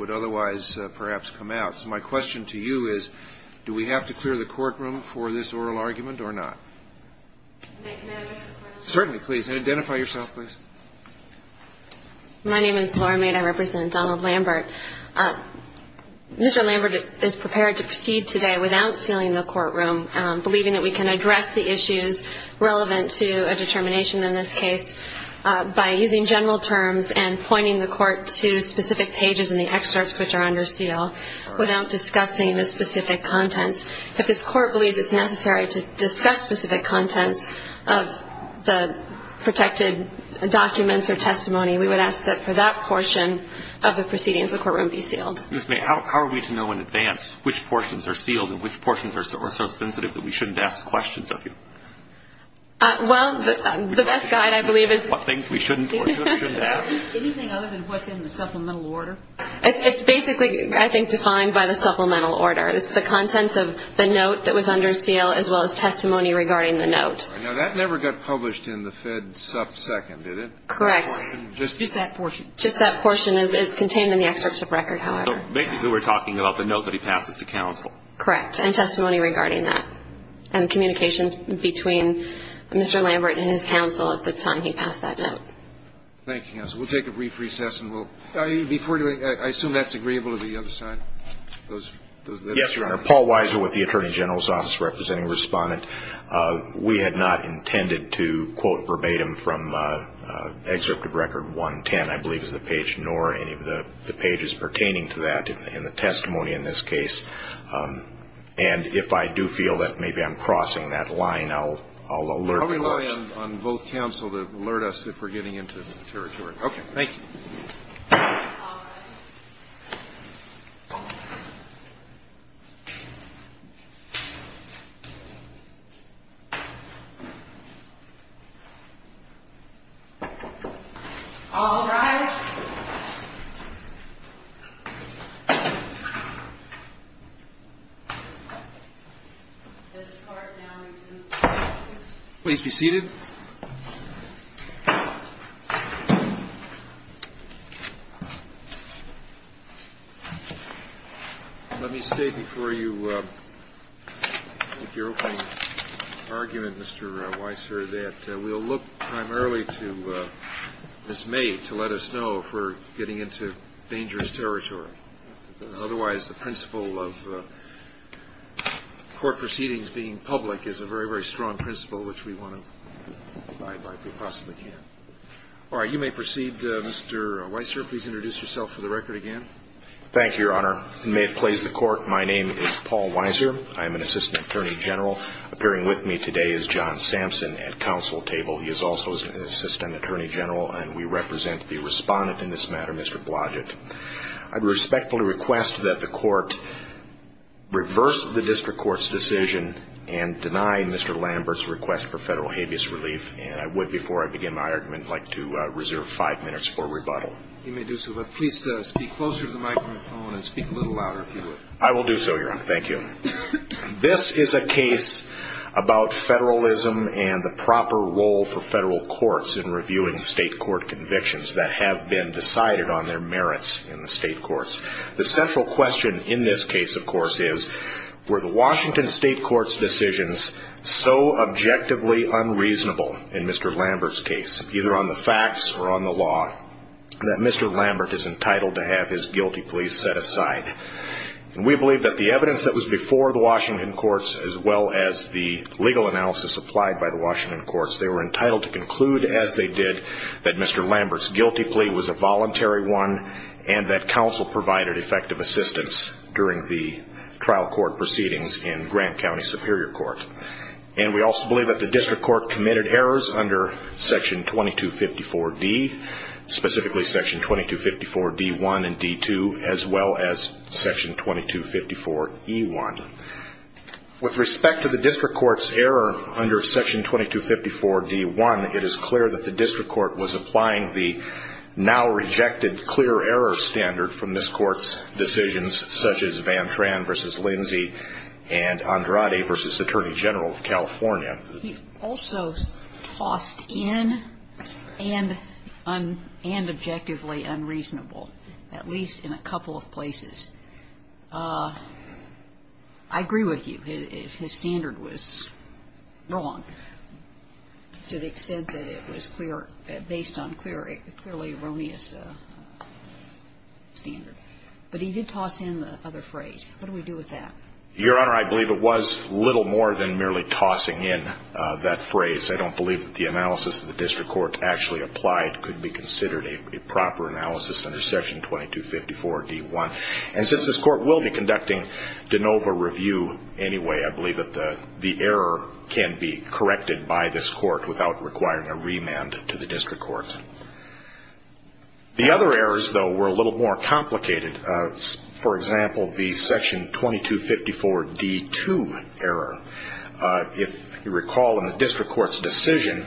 would otherwise perhaps come out. So my question to you is, do we have to clear the courtroom for this oral argument or not? Certainly, please. And identify yourself, please. My name is Laura Mead. I represent Donald Lambert. Mr. Lambert is prepared to proceed today without sealing the courtroom, believing that we can address the issues relevant to a determination in this case by using general terms and pointing the court to specific pages in the excerpts which are under seal without discussing the specific contents. If this court believes it's necessary to discuss specific contents of the protected documents or testimony, we would ask that for that portion of the proceedings, the courtroom be sealed. Ms. Mead, how are we to know in advance which portions are sealed and which portions are so sensitive that we shouldn't ask questions of you? Well, the best guide, I believe, is... What things we shouldn't question, shouldn't ask. Anything other than what's in the supplemental order? It's basically, I think, defined by the supplemental order. It's the contents of the note that was under seal as well as testimony regarding the note. Now, that never got published in the Fed subsecond, did it? Correct. Just that portion. Just that portion is contained in the excerpts of record, however. Basically, we're talking about the note that he passes to counsel. Correct. And testimony regarding that. And communications between Mr. Lambert and his counsel at the time he passed that note. Thank you, counsel. We'll take a brief recess and we'll... Before doing that, I assume that's agreeable to the other side? Yes, Your Honor. Paul Weiser with the Attorney General's Office representing Respondent. We had not intended to quote verbatim from Excerpt of Record 110, I believe is the page, nor any of the pages pertaining to that in the testimony in this case. And if I do feel that maybe I'm crossing that line, I'll alert the Court. Probably rely on both counsel to alert us if we're getting into the territory. Okay. Thank you. All rise. Please be seated. Let me state before you your opening argument, Mr. Weiser, that we'll look primarily to Ms. May to let us know if we're getting into dangerous territory. Otherwise, the principle of court proceedings being public is a very, very strong principle which we want to abide by if we possibly can. All right. You may proceed, Mr. Weiser. Please introduce yourself for the record again. Thank you, Your Honor. May it please the Court, my name is Paul Weiser. I am an Assistant Attorney General. Appearing with me today is John Sampson at counsel table. He is also an Assistant Attorney General, and we represent the Respondent in this matter, Mr. Blodgett. I respectfully request that the Court reverse the District Court's decision and deny Mr. Lambert's request for federal habeas relief. And I would, before I begin my argument, like to reserve five minutes for rebuttal. You may do so. But please speak closer to the microphone and speak a little louder if you would. I will do so, Your Honor. Thank you. This is a case about federalism and the proper role for federal courts in reviewing state court convictions that have been decided on their merits in the state courts. The central question in this case, of course, is were the Washington State Court's decisions so objectively unreasonable in Mr. Lambert's case, either on the facts or on the law, that Mr. Lambert is entitled to have his guilty pleas set aside? And we believe that the evidence that was before the Washington courts, as well as the legal analysis applied by the Washington courts, they were entitled to conclude, as they did, that Mr. Lambert's guilty plea was a voluntary one and that counsel provided effective assistance during the trial court proceedings in Grant County Superior Court. And we also believe that the District Court committed errors under Section 2254D, specifically Section 2254D1 and D2, as well as Section 2254E1. With respect to the District Court's error under Section 2254D1, it is clear that the District Court was applying the now-rejected clear error standard from this Court's decisions, such as Van Tran v. Lindsay and Andrade v. Attorney General of California. He also tossed in and objectively unreasonable, at least in a couple of places. I agree with you. His standard was wrong to the extent that it was clear, based on clearly erroneous standard. But he did toss in the other phrase. What do we do with that? Your Honor, I believe it was little more than merely tossing in that phrase. I don't believe that the analysis that the District Court actually applied could be considered a proper analysis under Section 2254D1. And since this Court will be conducting de novo review anyway, I believe that the error can be corrected by this Court without requiring a remand to the District Court. The other errors, though, were a little more complicated. For example, the Section 2254D2 error. If you recall in the District Court's decision,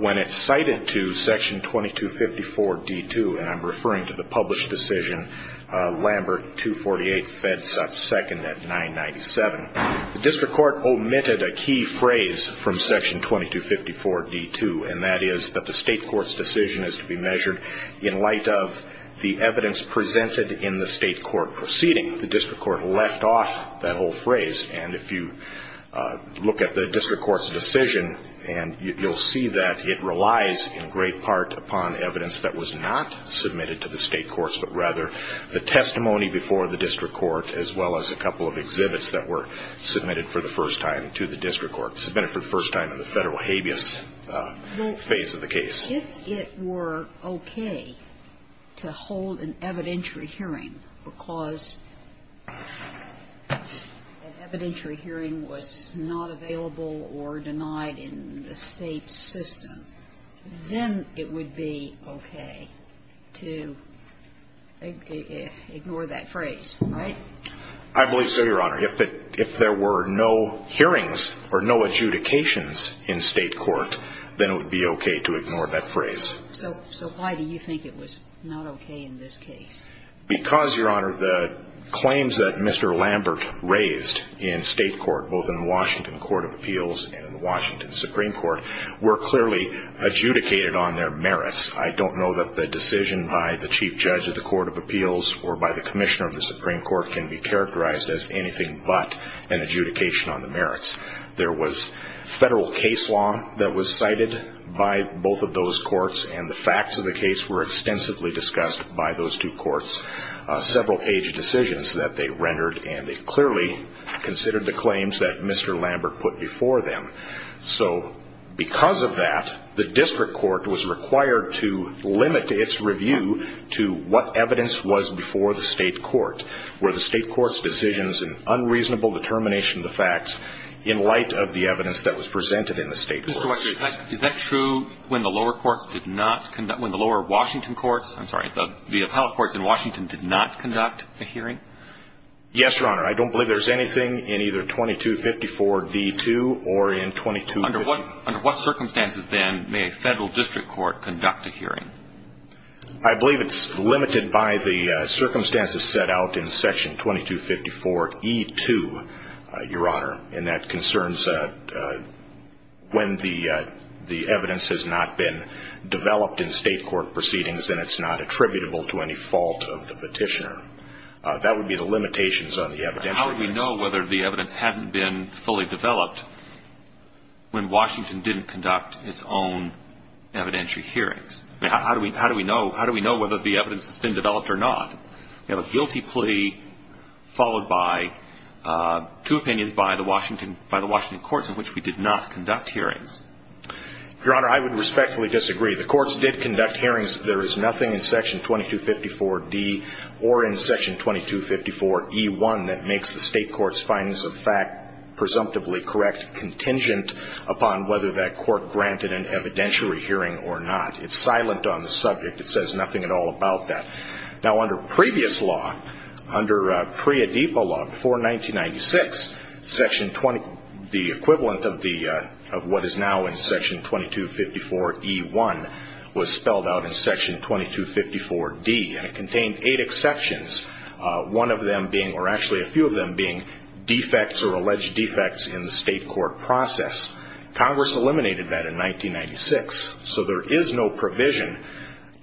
when it cited to Section 2254D2, and I'm referring to the published decision, Lambert 248, FEDSUF 2nd at 997, the District Court omitted a key phrase from Section 2254D2, and that is that the State Court's decision is to be measured in light of the evidence presented in the State Court proceeding. The District Court left off that whole phrase. And if you look at the District Court's decision, you'll see that it relies in great part upon evidence that was not submitted to the State Courts, but rather the testimony before the District Court, as well as a couple of exhibits that were submitted for the first time to the District Court, submitted for the first time in the Federal habeas phase of the case. Well, if it were okay to hold an evidentiary hearing because an evidentiary hearing was not available or denied in the State's system, then it would be okay to ignore that phrase, right? I believe so, Your Honor. If there were no hearings or no adjudications in State court, then it would be okay to ignore that phrase. So why do you think it was not okay in this case? Because, Your Honor, the claims that Mr. Lambert raised in State court, both in the Washington Court of Appeals and in the Washington Supreme Court, were clearly adjudicated on their merits. I don't know that the decision by the Chief Judge of the Court of Appeals or by the Commissioner of the Supreme Court can be characterized as anything but an adjudication on the merits. There was Federal case law that was cited by both of those courts, and the facts of the case were extensively discussed by those two courts, several page decisions that they rendered, and they clearly considered the claims that Mr. Lambert put before them. So because of that, the District Court was required to limit its review to what evidence was before the State court. Were the State court's decisions an unreasonable determination of the facts in light of the evidence that was presented in the State court? Mr. Waxman, is that true when the lower courts did not conduct, when the lower Washington courts, I'm sorry, the appellate courts in Washington did not conduct a hearing? Yes, Your Honor. I don't believe there's anything in either 2254d2 or in 2250. Under what circumstances, then, may a Federal district court conduct a hearing? I believe it's limited by the circumstances set out in section 2254e2, Your Honor, and that concerns when the evidence has not been developed in State court proceedings and it's not attributable to any fault of the petitioner. That would be the limitations on the evidence. How would we know whether the evidence hasn't been fully developed when Washington didn't conduct its own evidentiary hearings? How do we know whether the evidence has been developed or not? We have a guilty plea followed by two opinions by the Washington courts in which we did not conduct hearings. Your Honor, I would respectfully disagree. The courts did conduct hearings. There is nothing in section 2254d or in section 2254e1 that makes the State court's findings of fact presumptively correct contingent upon whether that court granted an evidentiary hearing or not. It's silent on the subject. It says nothing at all about that. Now, under previous law, under Priya Deepa law before 1996, the equivalent of what is now in section 2254e1 was spelled out in section 2254d, and it contained eight exceptions, one of them being or actually a few of them being defects or alleged defects in the State court process. Congress eliminated that in 1996, so there is no provision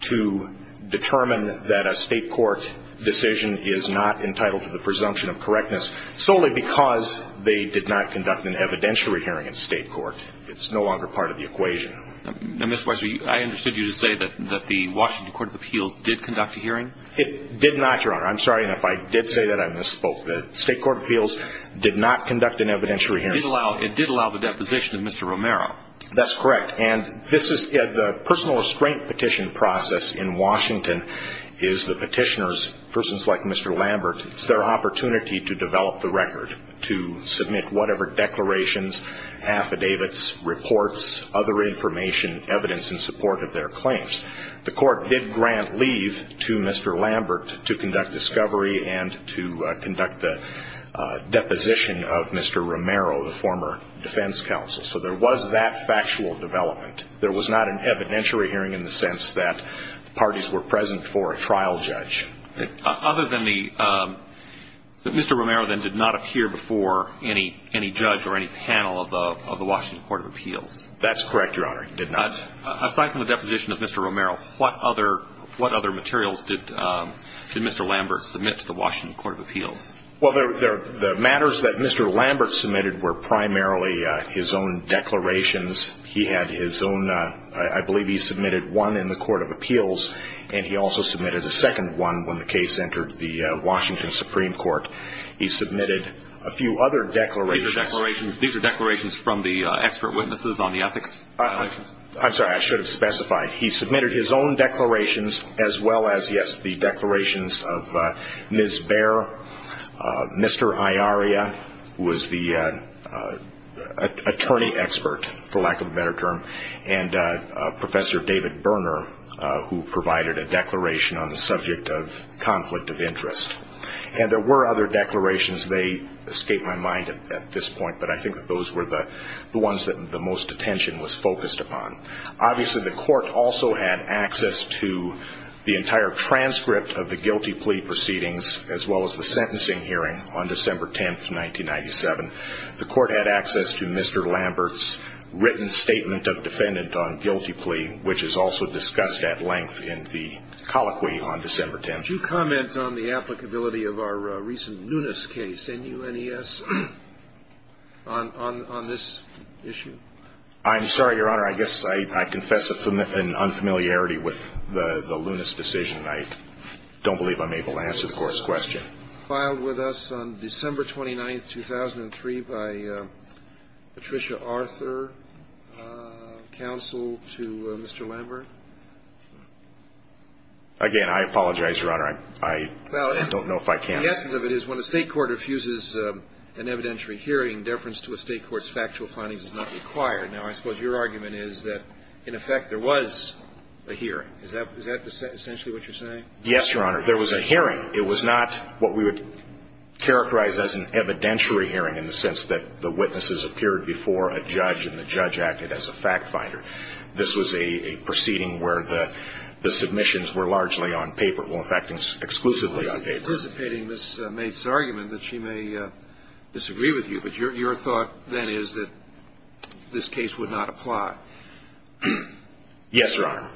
to determine that a State court decision is not entitled to the presumption of correctness solely because they did not conduct an evidentiary hearing in State court. It's no longer part of the equation. Now, Mr. Weiser, I understood you to say that the Washington court of appeals did conduct a hearing? It did not, Your Honor. I'm sorry, and if I did say that, I misspoke. The State court of appeals did not conduct an evidentiary hearing. It did allow the deposition of Mr. Romero. That's correct. And this is the personal restraint petition process in Washington is the petitioners, persons like Mr. Lambert, it's their opportunity to develop the record, to submit whatever declarations, affidavits, reports, other information, evidence in support of their claims. The court did grant leave to Mr. Lambert to conduct discovery and to conduct the deposition of Mr. Romero, the former defense counsel. So there was that factual development. There was not an evidentiary hearing in the sense that parties were present for a trial judge. Other than the Mr. Romero then did not appear before any judge or any panel of the Washington court of appeals. That's correct, Your Honor. He did not. Aside from the deposition of Mr. Romero, what other materials did Mr. Lambert submit to the Washington court of appeals? Well, the matters that Mr. Lambert submitted were primarily his own declarations. He had his own, I believe he submitted one in the court of appeals, and he also submitted a second one when the case entered the Washington Supreme Court. He submitted a few other declarations. These are declarations from the expert witnesses on the ethics violations? I'm sorry. I should have specified. He submitted his own declarations as well as, yes, the declarations of Ms. Bair, Mr. Iaria, who was the attorney expert, for lack of a better term, and Professor David Berner, who provided a declaration on the subject of conflict of interest. And there were other declarations. They escape my mind at this point, but I think that those were the ones that the most attention was focused upon. Obviously, the court also had access to the entire transcript of the guilty plea proceedings as well as the sentencing hearing on December 10th, 1997. The court had access to Mr. Lambert's written statement of defendant on guilty plea, which is also discussed at length in the colloquy on December 10th. Could you comment on the applicability of our recent Nunes case, N-U-N-E-S, on this issue? I'm sorry, Your Honor. I guess I confess an unfamiliarity with the Nunes decision. I don't believe I'm able to answer the Court's question. It was filed with us on December 29th, 2003 by Patricia Arthur, counsel to Mr. Lambert. Again, I apologize, Your Honor. I don't know if I can. The essence of it is when a State court refuses an evidentiary hearing, deference to a State court's factual findings is not required. Now, I suppose your argument is that, in effect, there was a hearing. Is that essentially what you're saying? Yes, Your Honor. There was a hearing. It was not what we would characterize as an evidentiary hearing in the sense that the witnesses appeared before a judge and the judge acted as a fact finder. This was a proceeding where the submissions were largely on paper, well, in fact, exclusively on paper. I'm anticipating this mate's argument that she may disagree with you. But your thought, then, is that this case would not apply. Yes, Your Honor.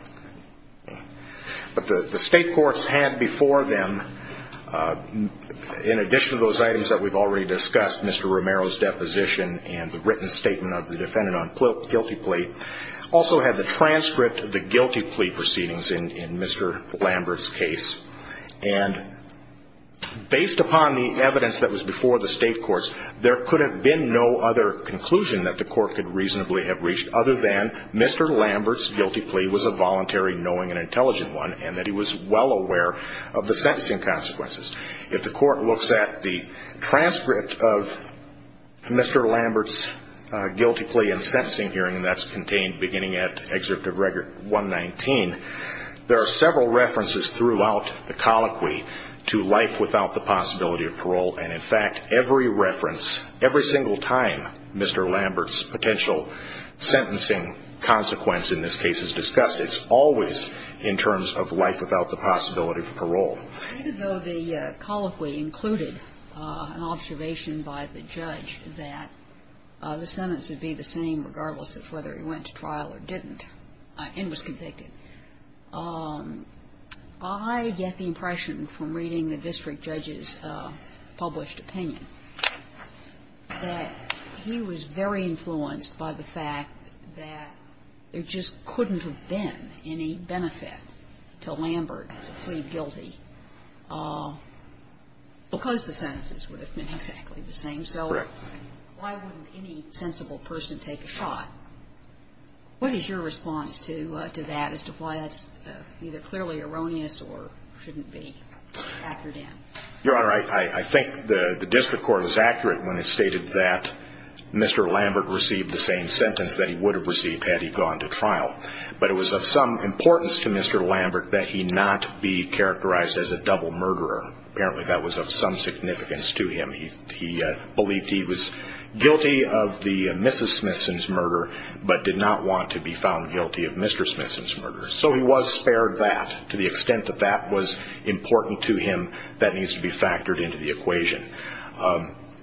But the State courts had before them, in addition to those items that we've already discussed, Mr. Romero's deposition and the written statement of the defendant on guilty plea, also had the transcript of the guilty plea proceedings in Mr. Lambert's case. And based upon the evidence that was before the State courts, there could have been no other conclusion that the court could reasonably have reached other than Mr. Lambert's guilty plea was a voluntary knowing and intelligent one and that he was well aware of the sentencing consequences. If the court looks at the transcript of Mr. Lambert's guilty plea and sentencing hearing, and that's contained beginning at Excerpt of Record 119, there are several references throughout the colloquy to life without the possibility of parole. And, in fact, every reference, every single time Mr. Lambert's potential sentencing consequence in this case is discussed, it's always in terms of life without the possibility of parole. Even though the colloquy included an observation by the judge that the sentence would be the same regardless of whether he went to trial or didn't and was convicted, I get the impression from reading the district judge's published opinion that he was very influenced by the fact that there just couldn't have been any benefit to Lambert to plead guilty because the sentences would have been exactly the same. Right. Why wouldn't any sensible person take a shot? What is your response to that as to why that's either clearly erroneous or shouldn't be factored in? Your Honor, I think the district court was accurate when it stated that Mr. Lambert received the same sentence that he would have received had he gone to trial. But it was of some importance to Mr. Lambert that he not be characterized as a double murderer. Apparently that was of some significance to him. He believed he was guilty of the Mrs. Smithson's murder but did not want to be found guilty of Mr. Smithson's murder. So he was spared that to the extent that that was important to him that needs to be factored into the equation.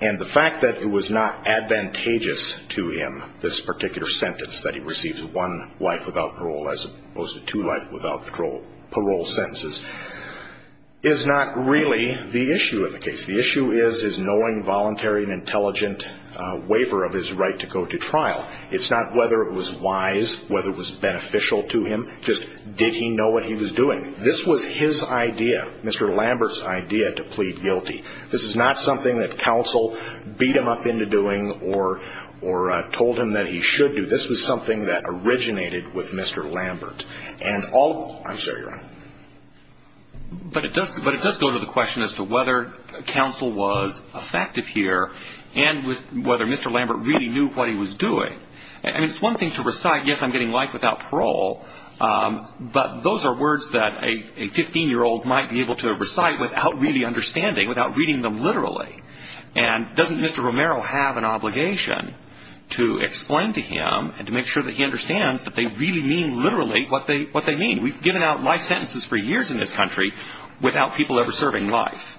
And the fact that it was not advantageous to him, this particular sentence that he receives one life without parole as opposed to two life without parole sentences, is not really the issue of the case. The issue is his knowing, voluntary, and intelligent waiver of his right to go to trial. It's not whether it was wise, whether it was beneficial to him, just did he know what he was doing? This was his idea, Mr. Lambert's idea to plead guilty. This is not something that counsel beat him up into doing or told him that he should do. This was something that originated with Mr. Lambert. And all of them, I'm sorry, Your Honor. But it does go to the question as to whether counsel was effective here and whether Mr. Lambert really knew what he was doing. And it's one thing to recite, yes, I'm getting life without parole, but those are words that a 15-year-old might be able to recite without really understanding, without reading them literally. And doesn't Mr. Romero have an obligation to explain to him and to make sure that he understands that they really mean literally what they mean? We've given out life sentences for years in this country without people ever serving life.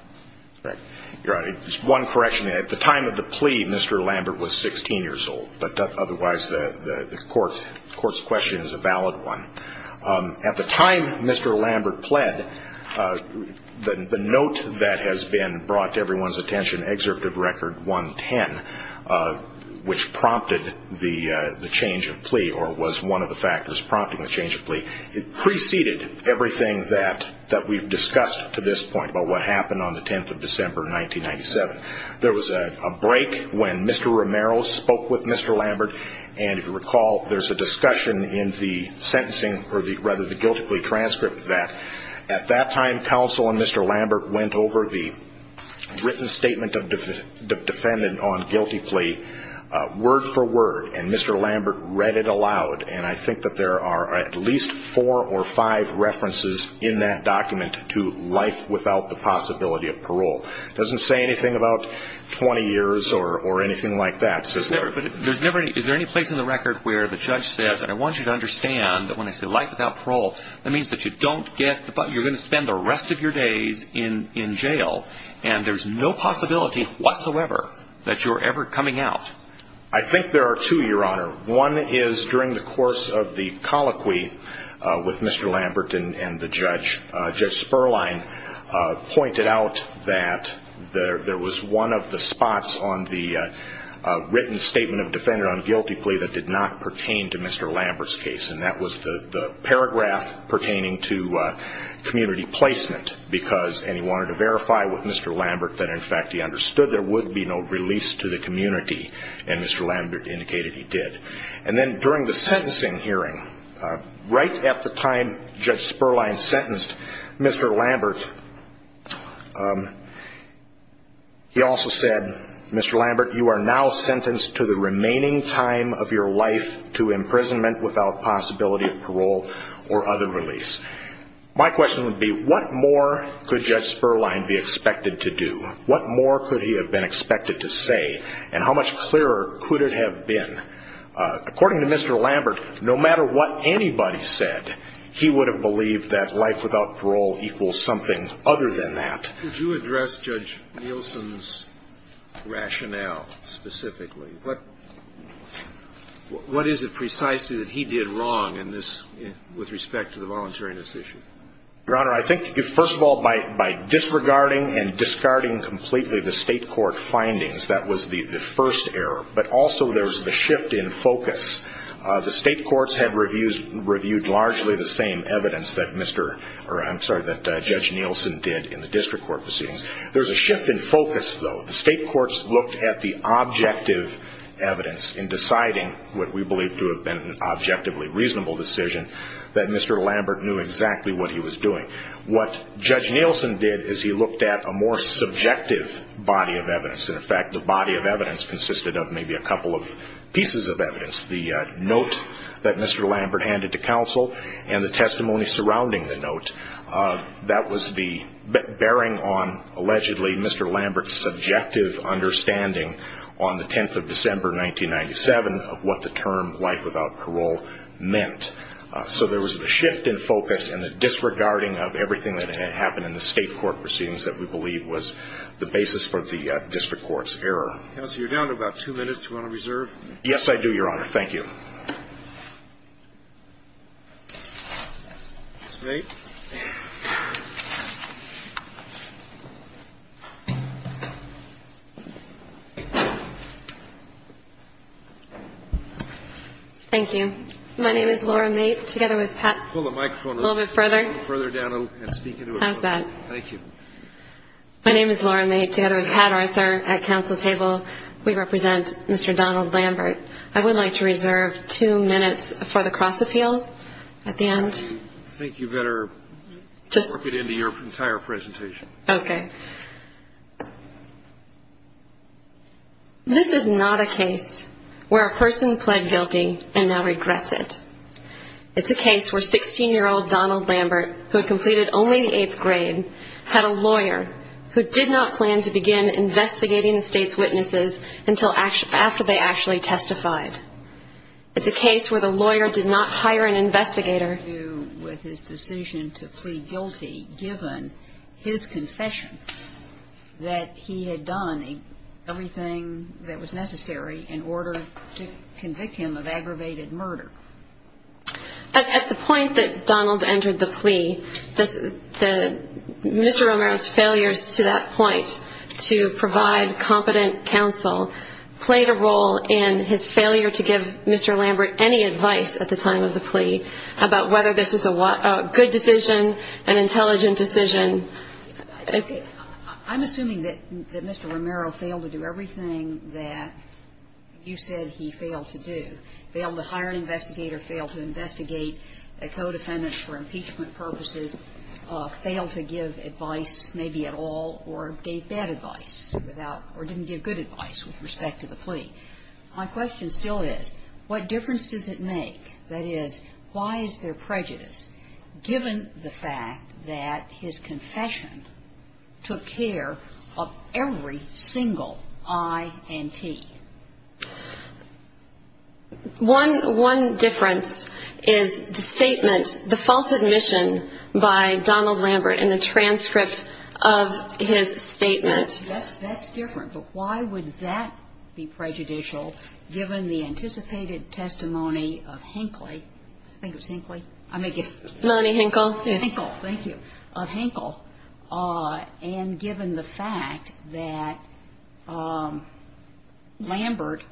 Right. Your Honor, just one correction. At the time of the plea, Mr. Lambert was 16 years old. But otherwise, the Court's question is a valid one. At the time Mr. Lambert pled, the note that has been brought to everyone's attention, Excerpt of Record 110, which prompted the change of plea or was one of the factors prompting the change of plea, it preceded everything that we've discussed to this point about what happened on the 10th of December, 1997. There was a break when Mr. Romero spoke with Mr. Lambert. And if you recall, there's a discussion in the sentencing or rather the guilty plea transcript that at that time counsel and Mr. Lambert went over the written statement of defendant on guilty plea word for word. And Mr. Lambert read it aloud. And I think that there are at least four or five references in that document to life without the possibility of parole. It doesn't say anything about 20 years or anything like that. But is there any place in the record where the judge says, I want you to understand that when I say life without parole, that means that you don't get, you're going to spend the rest of your days in jail and there's no possibility whatsoever that you're ever coming out. I think there are two, Your Honor. One is during the course of the colloquy with Mr. Lambert and the judge, Judge Sperlein pointed out that there was one of the spots on the written statement of defendant on guilty plea that did not pertain to Mr. Lambert's case. And that was the paragraph pertaining to community placement because, and he wanted to verify with Mr. Lambert that in fact he understood there would be no release to the community. And Mr. Lambert indicated he did. And then during the sentencing hearing, right at the time Judge Sperlein sentenced Mr. Lambert, he also said, Mr. Lambert, you are now sentenced to the remaining time of your life to imprisonment without possibility of parole or other release. My question would be, what more could Judge Sperlein be expected to do? What more could he have been expected to say? And how much clearer could it have been? According to Mr. Lambert, no matter what anybody said, he would have believed that life without parole equals something other than that. Could you address Judge Nielsen's rationale specifically? What is it precisely that he did wrong with respect to the voluntariness issue? Your Honor, I think, first of all, by disregarding and discarding completely the state court findings, that was the first error. But also there was the shift in focus. The state courts had reviewed largely the same evidence that Mr. or I'm sorry, that Judge Nielsen did in the district court proceedings. There was a shift in focus, though. The state courts looked at the objective evidence in deciding what we believe to have been an objectively reasonable decision, that Mr. Lambert knew exactly what he was doing. What Judge Nielsen did is he looked at a more subjective body of evidence. In fact, the body of evidence consisted of maybe a couple of pieces of evidence. The note that Mr. Lambert handed to counsel and the testimony surrounding the note, that was the bearing on, allegedly, Mr. Lambert's subjective understanding on the 10th of December, 1997, of what the term life without parole meant. So there was the shift in focus and the disregarding of everything that had happened in the state court proceedings that we believe was the basis for the district court's error. Counsel, you're down to about two minutes. Do you want to reserve? Yes, I do, Your Honor. Thank you. Ms. Mait. Thank you. My name is Laura Mait, together with Pat. Pull the microphone a little bit further. Further down and speak into it. How's that? Thank you. My name is Laura Mait, together with Pat Arthur at counsel table. We represent Mr. Donald Lambert. I would like to reserve two minutes for the cross-appeal at the end. I think you better work it into your entire presentation. Okay. This is not a case where a person pled guilty and now regrets it. It's a case where 16-year-old Donald Lambert, who had completed only the eighth grade, had a lawyer who did not plan to begin investigating the state's witnesses until after they actually testified. It's a case where the lawyer did not hire an investigator. With his decision to plead guilty, given his confession that he had done everything that was necessary in order to convict him of aggravated murder. At the point that Donald entered the plea, Mr. Romero's failures to that point to provide competent counsel played a role in his failure to give Mr. Lambert any advice at the time of the plea about whether this was a good decision, an intelligent decision. I'm assuming that Mr. Romero failed to do everything that you said he failed to do. Failed to hire an investigator, failed to investigate co-defendants for impeachment purposes, failed to give advice, maybe at all, or gave bad advice without or didn't give good advice with respect to the plea. My question still is, what difference does it make, that is, why is there prejudice, given the fact that his confession took care of every single I and T? One difference is the statement, the false admission by Donald Lambert in the transcript of his statement. Yes, that's different. But why would that be prejudicial, given the anticipated testimony of Hinckley? I think it was Hinckley. I may get it wrong. Melanie Hinckle. Hinckle. Thank you. And given the fact that Lambert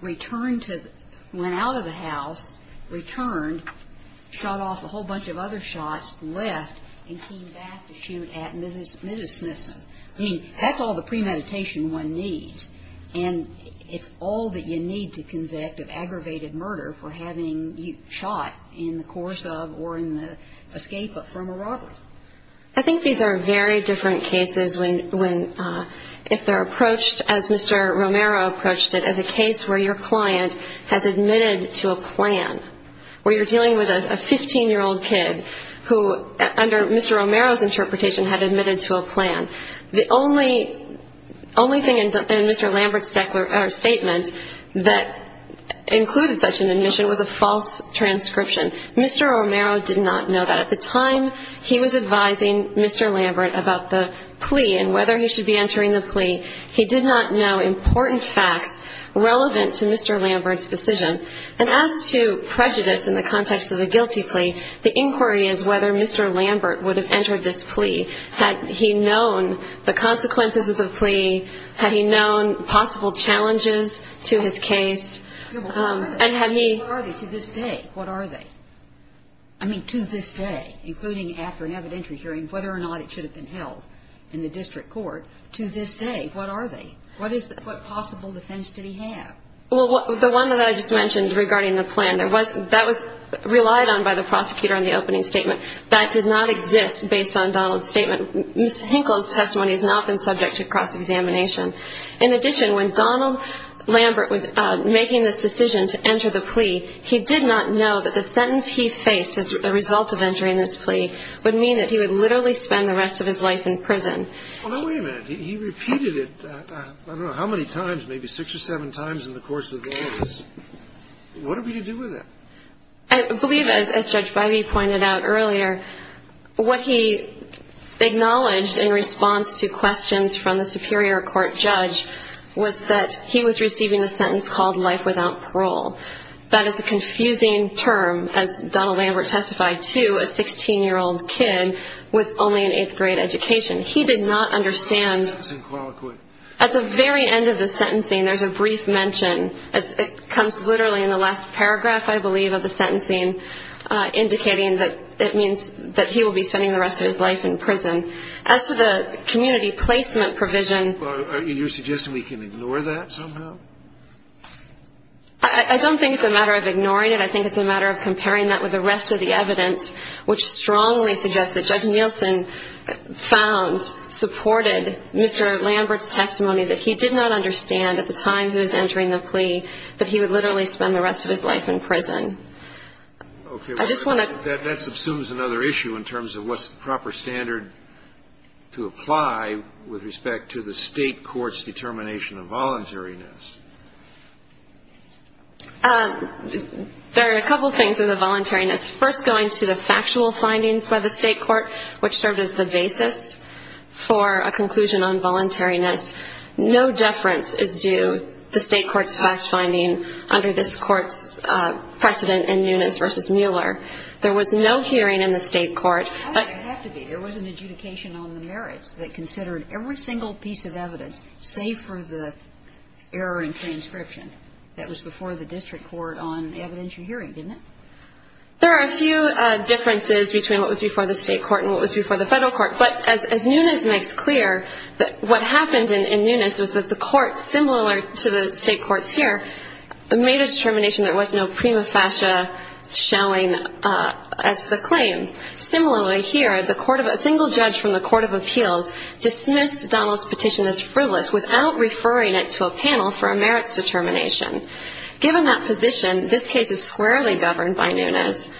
returned to, went out of the house, returned, shot off a whole bunch of other shots, left, and came back to shoot at Mrs. Smithson. I mean, that's all the premeditation one needs, and it's all that you need to convict of aggravated murder for having shot in the course of or in the escape from a robbery. I think these are very different cases when, if they're approached as Mr. Romero approached it, as a case where your client has admitted to a plan, where you're dealing with a 15-year-old kid who, under Mr. Romero's interpretation, had admitted to a plan. The only thing in Mr. Lambert's statement that included such an admission was a false transcription. Mr. Romero did not know that. At the time he was advising Mr. Lambert about the plea and whether he should be entering the plea, he did not know important facts relevant to Mr. Lambert's decision. And as to prejudice in the context of a guilty plea, the inquiry is whether Mr. Lambert would have entered this plea. Had he known the consequences of the plea? Had he known possible challenges to his case? What are they to this day? What are they? I mean, to this day, including after an evidentiary hearing, whether or not it should have been held in the district court. To this day, what are they? What possible defense did he have? Well, the one that I just mentioned regarding the plan, that was relied on by the prosecutor in the opening statement. That did not exist based on Donald's statement. Ms. Hinkle's testimony has not been subject to cross-examination. In addition, when Donald Lambert was making this decision to enter the plea, he did not know that the sentence he faced as a result of entering this plea would mean that he would literally spend the rest of his life in prison. Well, now, wait a minute. He repeated it, I don't know how many times, maybe six or seven times in the course of the case. What are we to do with that? I believe, as Judge Bivey pointed out earlier, what he acknowledged in response to questions from the superior court judge was that he was receiving a sentence called life without parole. That is a confusing term, as Donald Lambert testified to a 16-year-old kid with only an eighth-grade education. He did not understand at the very end of the sentencing, there's a brief mention. It comes literally in the last paragraph, I believe, of the sentencing, indicating that it means that he will be spending the rest of his life in prison. As to the community placement provision. Are you suggesting we can ignore that somehow? I don't think it's a matter of ignoring it. I think it's a matter of comparing that with the rest of the evidence, which strongly suggests that Judge Nielsen found, supported, Mr. Lambert's testimony that he would literally spend the rest of his life in prison. That subsumes another issue in terms of what's the proper standard to apply with respect to the state court's determination of voluntariness. There are a couple of things with the voluntariness. First, going to the factual findings by the state court, which served as the basis for a conclusion on voluntariness. No deference is due the state court's fact finding under this court's precedent in Nunes v. Mueller. There was no hearing in the state court. How did it have to be? There was an adjudication on the merits that considered every single piece of evidence, save for the error in transcription, that was before the district court on evidentiary hearing, didn't it? There are a few differences between what was before the state court and what was before the federal court. But as Nunes makes clear, what happened in Nunes was that the court, similar to the state courts here, made a determination there was no prima facie showing as to the claim. Similarly here, a single judge from the Court of Appeals dismissed Donald's petition as frivolous without referring it to a panel for a merits determination. Given that position, this case is squarely governed by Nunes,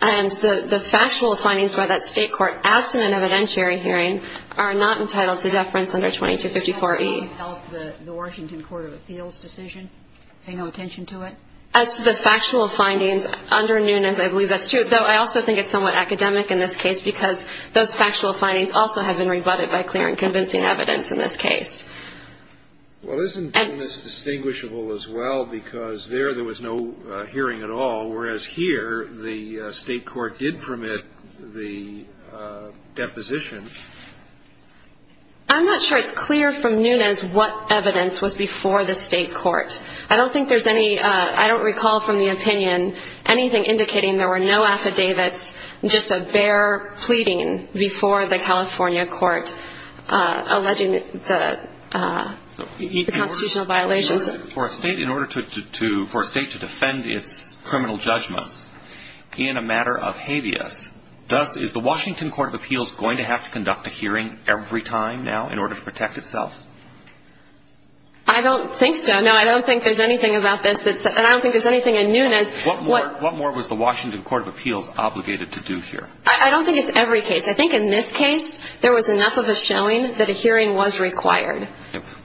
and the factual findings by that state court absent an evidentiary hearing are not entitled to deference under 2254E. Does that help the Washington Court of Appeals decision? Pay no attention to it? As to the factual findings under Nunes, I believe that's true, though I also think it's somewhat academic in this case because those factual findings also have been rebutted by clear and convincing evidence in this case. Well, isn't Nunes distinguishable as well because there there was no hearing at all, whereas here the state court did permit the deposition? I'm not sure it's clear from Nunes what evidence was before the state court. I don't think there's any – I don't recall from the opinion anything indicating there were no affidavits, just a bare pleading before the California court alleging the constitutional violations. For a state to defend its criminal judgments in a matter of habeas, thus is the Washington Court of Appeals going to have to conduct a hearing every time now in order to protect itself? I don't think so. No, I don't think there's anything about this that's – and I don't think there's anything in Nunes. What more was the Washington Court of Appeals obligated to do here? I don't think it's every case. I think in this case there was enough of a showing that a hearing was required.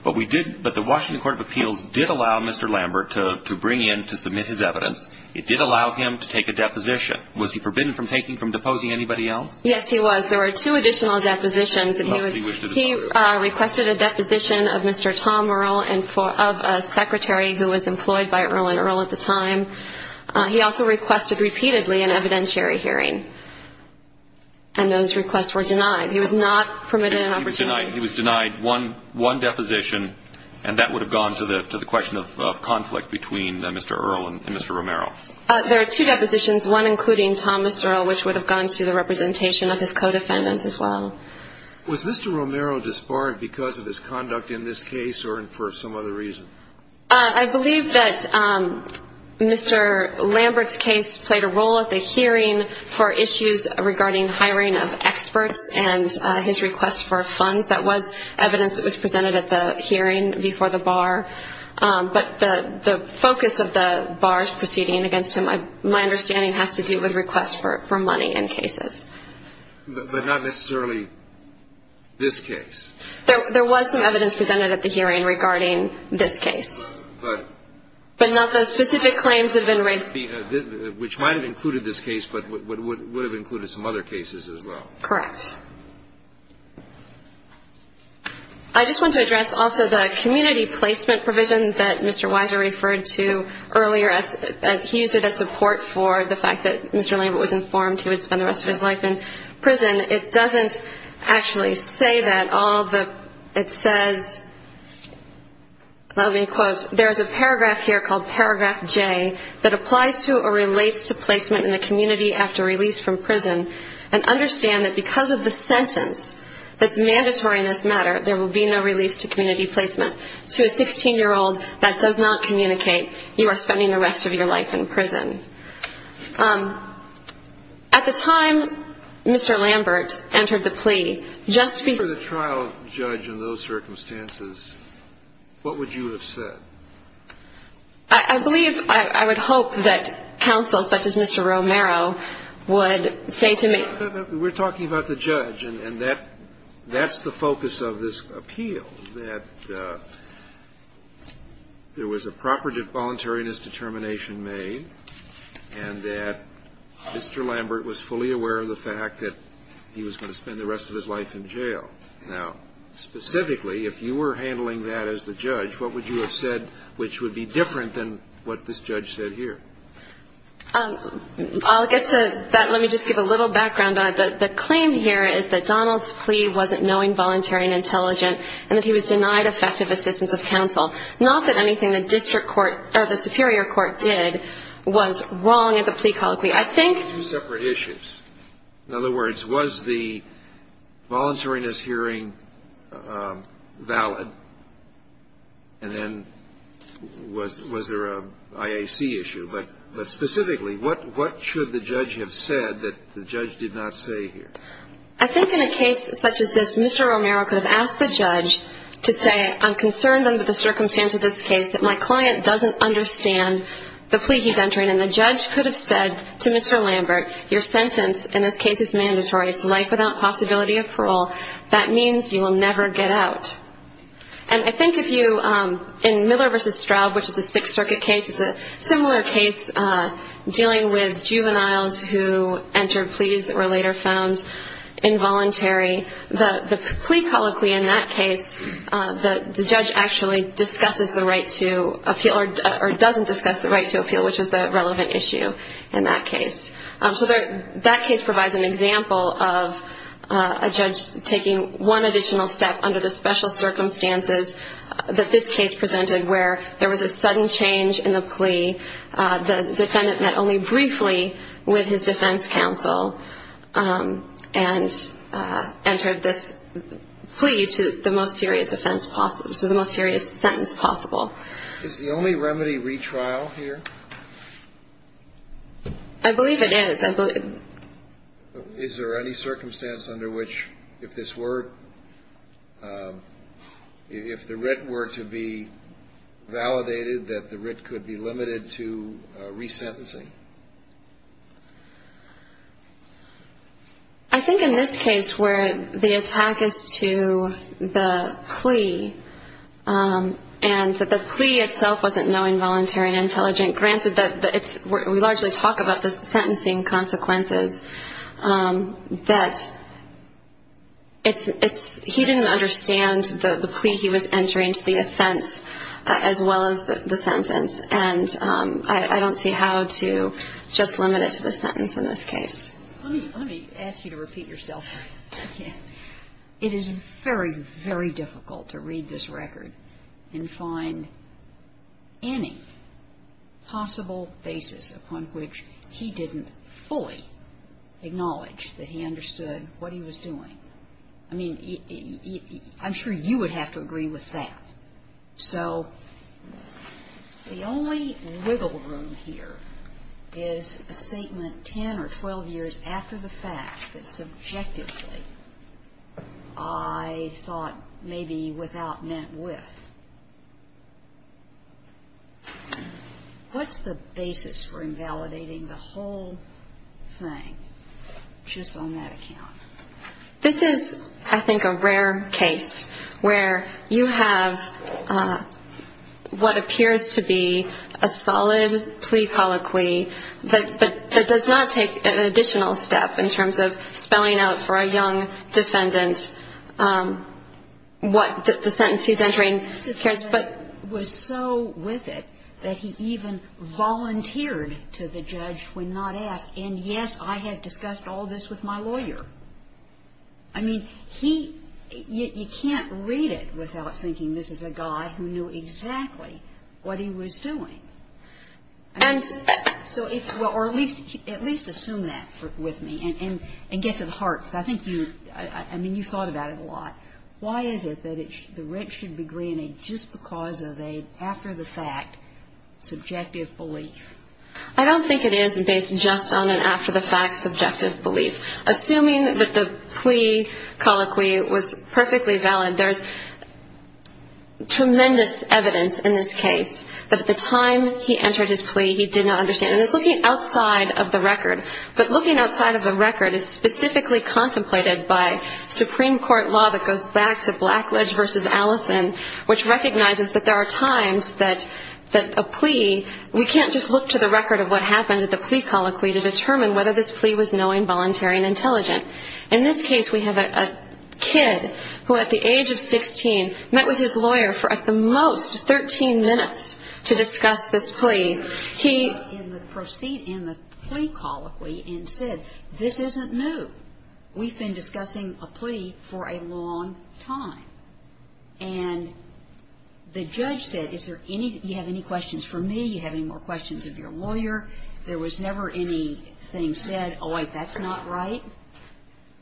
But we did – but the Washington Court of Appeals did allow Mr. Lambert to bring in, to submit his evidence. It did allow him to take a deposition. Was he forbidden from taking, from deposing anybody else? Yes, he was. There were two additional depositions. He requested a deposition of Mr. Tom Earl, of a secretary who was employed by Earl and Earl at the time. He also requested repeatedly an evidentiary hearing, and those requests were denied. He was not permitted an opportunity. He was denied one deposition, and that would have gone to the question of conflict between Mr. Earl and Mr. Romero. There are two depositions, one including Thomas Earl, which would have gone to the representation of his co-defendant as well. Was Mr. Romero disbarred because of his conduct in this case or for some other reason? I believe that Mr. Lambert's case played a role at the hearing for issues regarding hiring of experts and his request for funds. That was evidence that was presented at the hearing before the bar. But the focus of the bar's proceeding against him, my understanding, has to do with requests for money in cases. But not necessarily this case? There was some evidence presented at the hearing regarding this case. But not the specific claims that have been raised? Which might have included this case, but would have included some other cases as well. Correct. I just want to address also the community placement provision that Mr. Weiser referred to earlier. He used it as support for the fact that Mr. Lambert was informed he would spend the rest of his life in prison. It doesn't actually say that. There is a paragraph here called Paragraph J that applies to or relates to placement in the community after release from prison and understand that because of the sentence that's mandatory in this matter, there will be no release to community placement to a 16-year-old that does not communicate you are spending the rest of your life in prison. At the time Mr. Lambert entered the plea, just before the trial, without a judge in those circumstances, what would you have said? I believe, I would hope that counsel such as Mr. Romero would say to me We're talking about the judge and that's the focus of this appeal, that there was a proper voluntariness determination made and that Mr. Lambert was fully aware of the fact that he was going to spend the rest of his life in jail. Now, specifically, if you were handling that as the judge, what would you have said which would be different than what this judge said here? I'll get to that. Let me just give a little background on it. The claim here is that Donald's plea wasn't knowing, voluntary, and intelligent and that he was denied effective assistance of counsel. Not that anything the district court or the superior court did was wrong at the plea colloquy. I think Two separate issues. In other words, was the voluntariness hearing valid? And then, was there a IAC issue? But specifically, what should the judge have said that the judge did not say here? I think in a case such as this, Mr. Romero could have asked the judge to say I'm concerned under the circumstance of this case that my client doesn't understand the plea he's entering and the judge could have said to Mr. Lambert, your sentence in this case is mandatory. It's life without possibility of parole. That means you will never get out. And I think if you, in Miller v. Straub, which is a Sixth Circuit case, it's a similar case dealing with juveniles who entered pleas that were later found involuntary. The plea colloquy in that case, the judge actually discusses the right to appeal or doesn't discuss the right to appeal, which is the relevant issue in that case. So that case provides an example of a judge taking one additional step under the special circumstances that this case presented where there was a sudden change in the plea. The defendant met only briefly with his defense counsel and entered this plea to the most serious offense possible, so the most serious sentence possible. Is the only remedy retrial here? I believe it is. Is there any circumstance under which if this were, if the writ were to be validated, that the writ could be limited to resentencing? I think in this case where the attack is to the plea and that the plea itself wasn't knowing, voluntary, and intelligent, granted that we largely talk about the sentencing consequences, that he didn't understand the plea he was entering to the offense as well as the sentence. And I don't see how to just limit it to the sentence in this case. Let me ask you to repeat yourself. Okay. It is very, very difficult to read this record and find any possible basis upon which he didn't fully acknowledge that he understood what he was doing. I mean, I'm sure you would have to agree with that. So the only wiggle room here is a statement 10 or 12 years after the fact that subjectively I thought maybe without meant with. What's the basis for invalidating the whole thing just on that account? This is, I think, a rare case where you have what appears to be a solid plea colloquy, but it does not take an additional step in terms of spelling out for a young defendant what the sentence he's entering. But he was so with it that he even volunteered to the judge when not asked. And, yes, I have discussed all this with my lawyer. I mean, you can't read it without thinking this is a guy who knew exactly what he was doing. Or at least assume that with me and get to the heart. I mean, you thought about it a lot. Why is it that the rent should be granted just because of an after-the-fact subjective belief? I don't think it is based just on an after-the-fact subjective belief. Assuming that the plea colloquy was perfectly valid, there's tremendous evidence in this case that at the time he entered his plea he did not understand. And it's looking outside of the record. But looking outside of the record is specifically contemplated by Supreme Court law that goes back to Blackledge v. Allison, which recognizes that there are times that a plea, we can't just look to the record of what happened at the plea colloquy to determine whether this plea was knowing, voluntary, and intelligent. In this case we have a kid who at the age of 16 met with his lawyer for at the most 13 minutes to discuss this plea. He proceeded in the plea colloquy and said, this isn't new. We've been discussing a plea for a long time. And the judge said, is there any, do you have any questions for me? Do you have any more questions of your lawyer? There was never anything said, oh, wait, that's not right,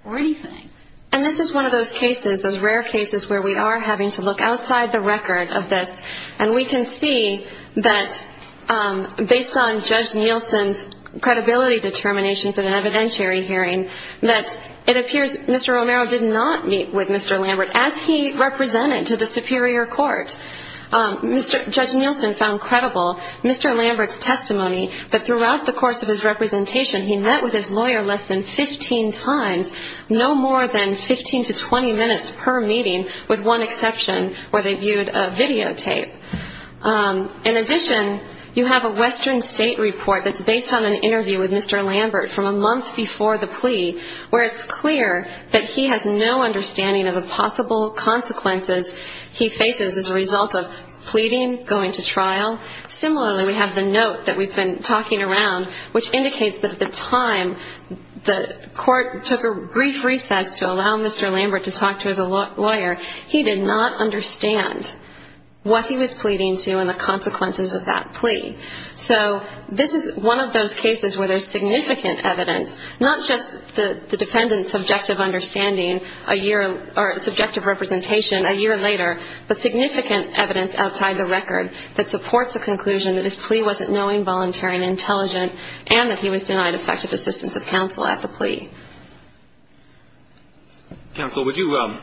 or anything. And this is one of those cases, those rare cases where we are having to look outside the record of this. And we can see that based on Judge Nielsen's credibility determinations in an evidentiary hearing, that it appears Mr. Romero did not meet with Mr. Lambert as he represented to the superior court. Judge Nielsen found credible Mr. Lambert's testimony that throughout the course of his representation, he met with his lawyer less than 15 times, no more than 15 to 20 minutes per meeting, with one exception where they viewed a videotape. In addition, you have a Western State report that's based on an interview with Mr. Lambert from a month before the plea, where it's clear that he has no understanding of the possible consequences he faces as a result of pleading, going to trial. Similarly, we have the note that we've been talking around, which indicates that at the time the court took a brief recess to allow Mr. Lambert to talk to his lawyer, he did not understand what he was pleading to and the consequences of that plea. So this is one of those cases where there's significant evidence, not just the defendant's subjective understanding or subjective representation a year later, but significant evidence outside the record that supports the conclusion that his plea wasn't knowing, voluntary, and intelligent, and that he was denied effective assistance of counsel at the plea. Counsel, would you go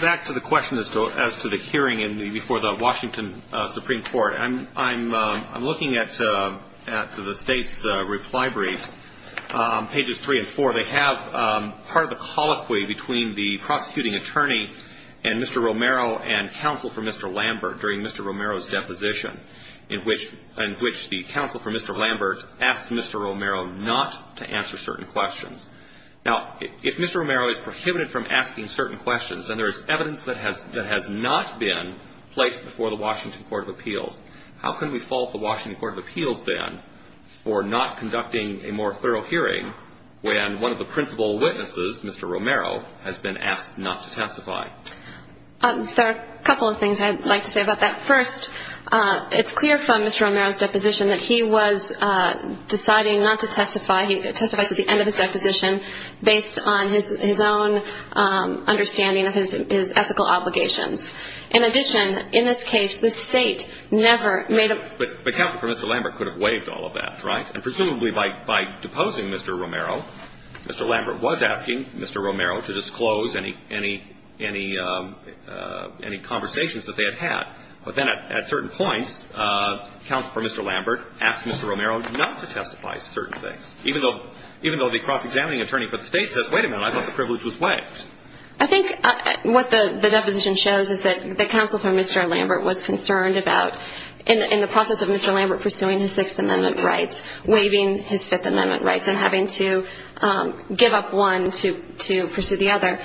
back to the question as to the hearing before the Washington Supreme Court. I'm looking at the State's reply brief, pages three and four. They have part of a colloquy between the prosecuting attorney and Mr. Romero and counsel for Mr. Lambert during Mr. Romero's deposition, in which the counsel for Mr. Lambert asked Mr. Romero not to answer certain questions. Now, if Mr. Romero is prohibited from asking certain questions, then there is evidence that has not been placed before the Washington Court of Appeals. How can we fault the Washington Court of Appeals then for not conducting a more thorough hearing when one of the principal witnesses, Mr. Romero, has been asked not to testify? There are a couple of things I'd like to say about that. First, it's clear from Mr. Romero's deposition that he was deciding not to testify. He testified at the end of his deposition based on his own understanding of his ethical obligations. In addition, in this case, the State never made a ---- But counsel for Mr. Lambert could have waived all of that, right? And presumably by deposing Mr. Romero, Mr. Lambert was asking Mr. Romero to disclose any conversations that they had had. But then at certain points, counsel for Mr. Lambert asked Mr. Romero not to testify to certain things, even though the cross-examining attorney for the State says, wait a minute, I thought the privilege was waived. I think what the deposition shows is that the counsel for Mr. Lambert was concerned about, in the process of Mr. Lambert pursuing his Sixth Amendment rights, waiving his Fifth Amendment rights and having to give up one to pursue the other.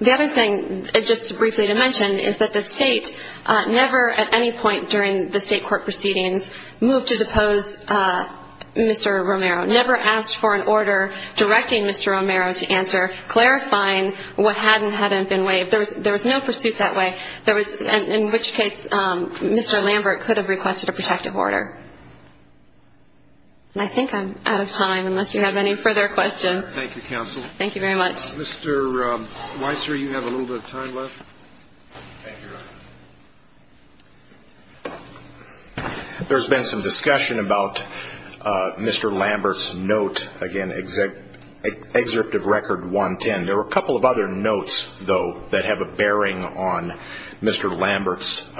The other thing, just briefly to mention, is that the State never at any point during the State court proceedings moved to depose Mr. Romero, never asked for an order directing Mr. Romero to answer, clarifying what had and hadn't been waived. There was no pursuit that way, in which case Mr. Lambert could have requested a protective order. And I think I'm out of time, unless you have any further questions. Thank you, counsel. Thank you very much. Mr. Weisser, you have a little bit of time left. Thank you. There's been some discussion about Mr. Lambert's note, again, Excerpt of Record 110. There were a couple of other notes, though, that have a bearing on Mr. Lambert's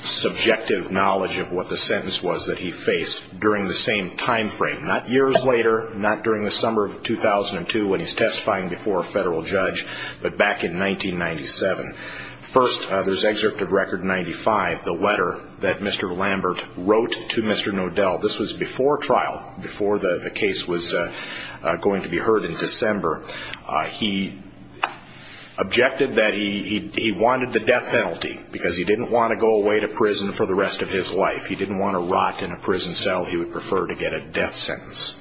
subjective knowledge of what the sentence was that he faced during the same time frame, not years later, not during the summer of 2002 when he's testifying before a federal judge, but back in 1997. First, there's Excerpt of Record 95, the letter that Mr. Lambert wrote to Mr. Nodell. This was before trial, before the case was going to be heard in December. He objected that he wanted the death penalty because he didn't want to go away to prison for the rest of his life. He didn't want to rot in a prison cell. He would prefer to get a death sentence.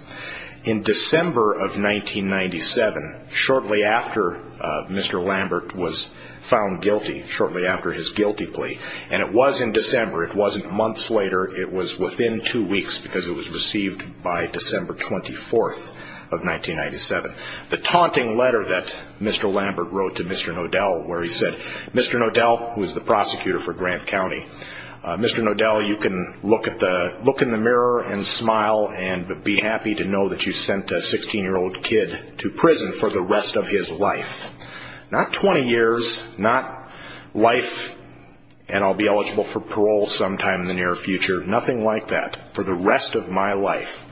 In December of 1997, shortly after Mr. Lambert was found guilty, shortly after his guilty plea, and it was in December, it wasn't months later, it was within two weeks because it was received by December 24th of 1997, the taunting letter that Mr. Lambert wrote to Mr. Nodell where he said, Mr. Nodell, who is the prosecutor for Grant County, Mr. Nodell, you can look in the mirror and smile and be happy to know that you sent a 16-year-old kid to prison for the rest of his life. Not 20 years, not life and I'll be eligible for parole sometime in the near future, nothing like that. For the rest of my life.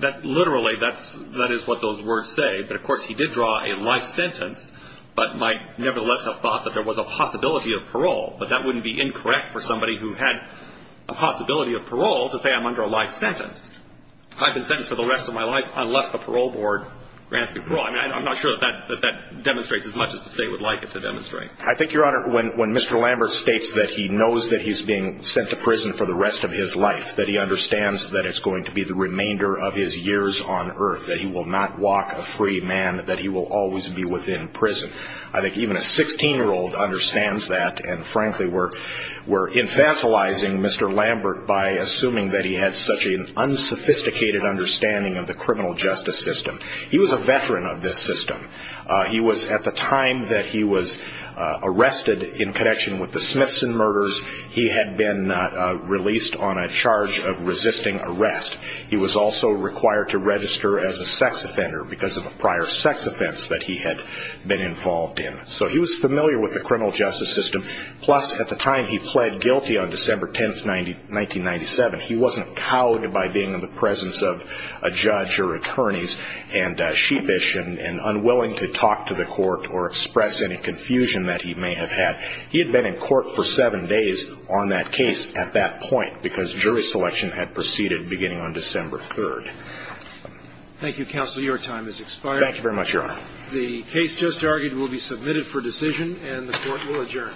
That literally, that is what those words say, but of course he did draw a life sentence, but might nevertheless have thought that there was a possibility of parole, but that wouldn't be incorrect for somebody who had a possibility of parole to say I'm under a life sentence. I've been sentenced for the rest of my life unless the parole board grants me parole. I'm not sure that that demonstrates as much as the state would like it to demonstrate. I think, Your Honor, when Mr. Lambert states that he knows that he's being sent to prison for the rest of his life, that he understands that it's going to be the remainder of his years on earth, that he will not walk a free man, that he will always be within prison. I think even a 16-year-old understands that and frankly we're infantilizing Mr. Lambert by assuming that he had such an unsophisticated understanding of the criminal justice system. He was a veteran of this system. He was, at the time that he was arrested in connection with the Smithson murders, he had been released on a charge of resisting arrest. He was also required to register as a sex offender because of a prior sex offense that he had been involved in. So he was familiar with the criminal justice system. Plus, at the time he pled guilty on December 10, 1997, he wasn't cowed by being in the presence of a judge or attorneys and sheepish and unwilling to talk to the court or express any confusion that he may have had. He had been in court for seven days on that case at that point because jury selection had proceeded beginning on December 3. Thank you, Counselor. Your time has expired. Thank you very much, Your Honor. The case just argued will be submitted for decision and the court will adjourn. All rise. This court for discussion stands adjourned.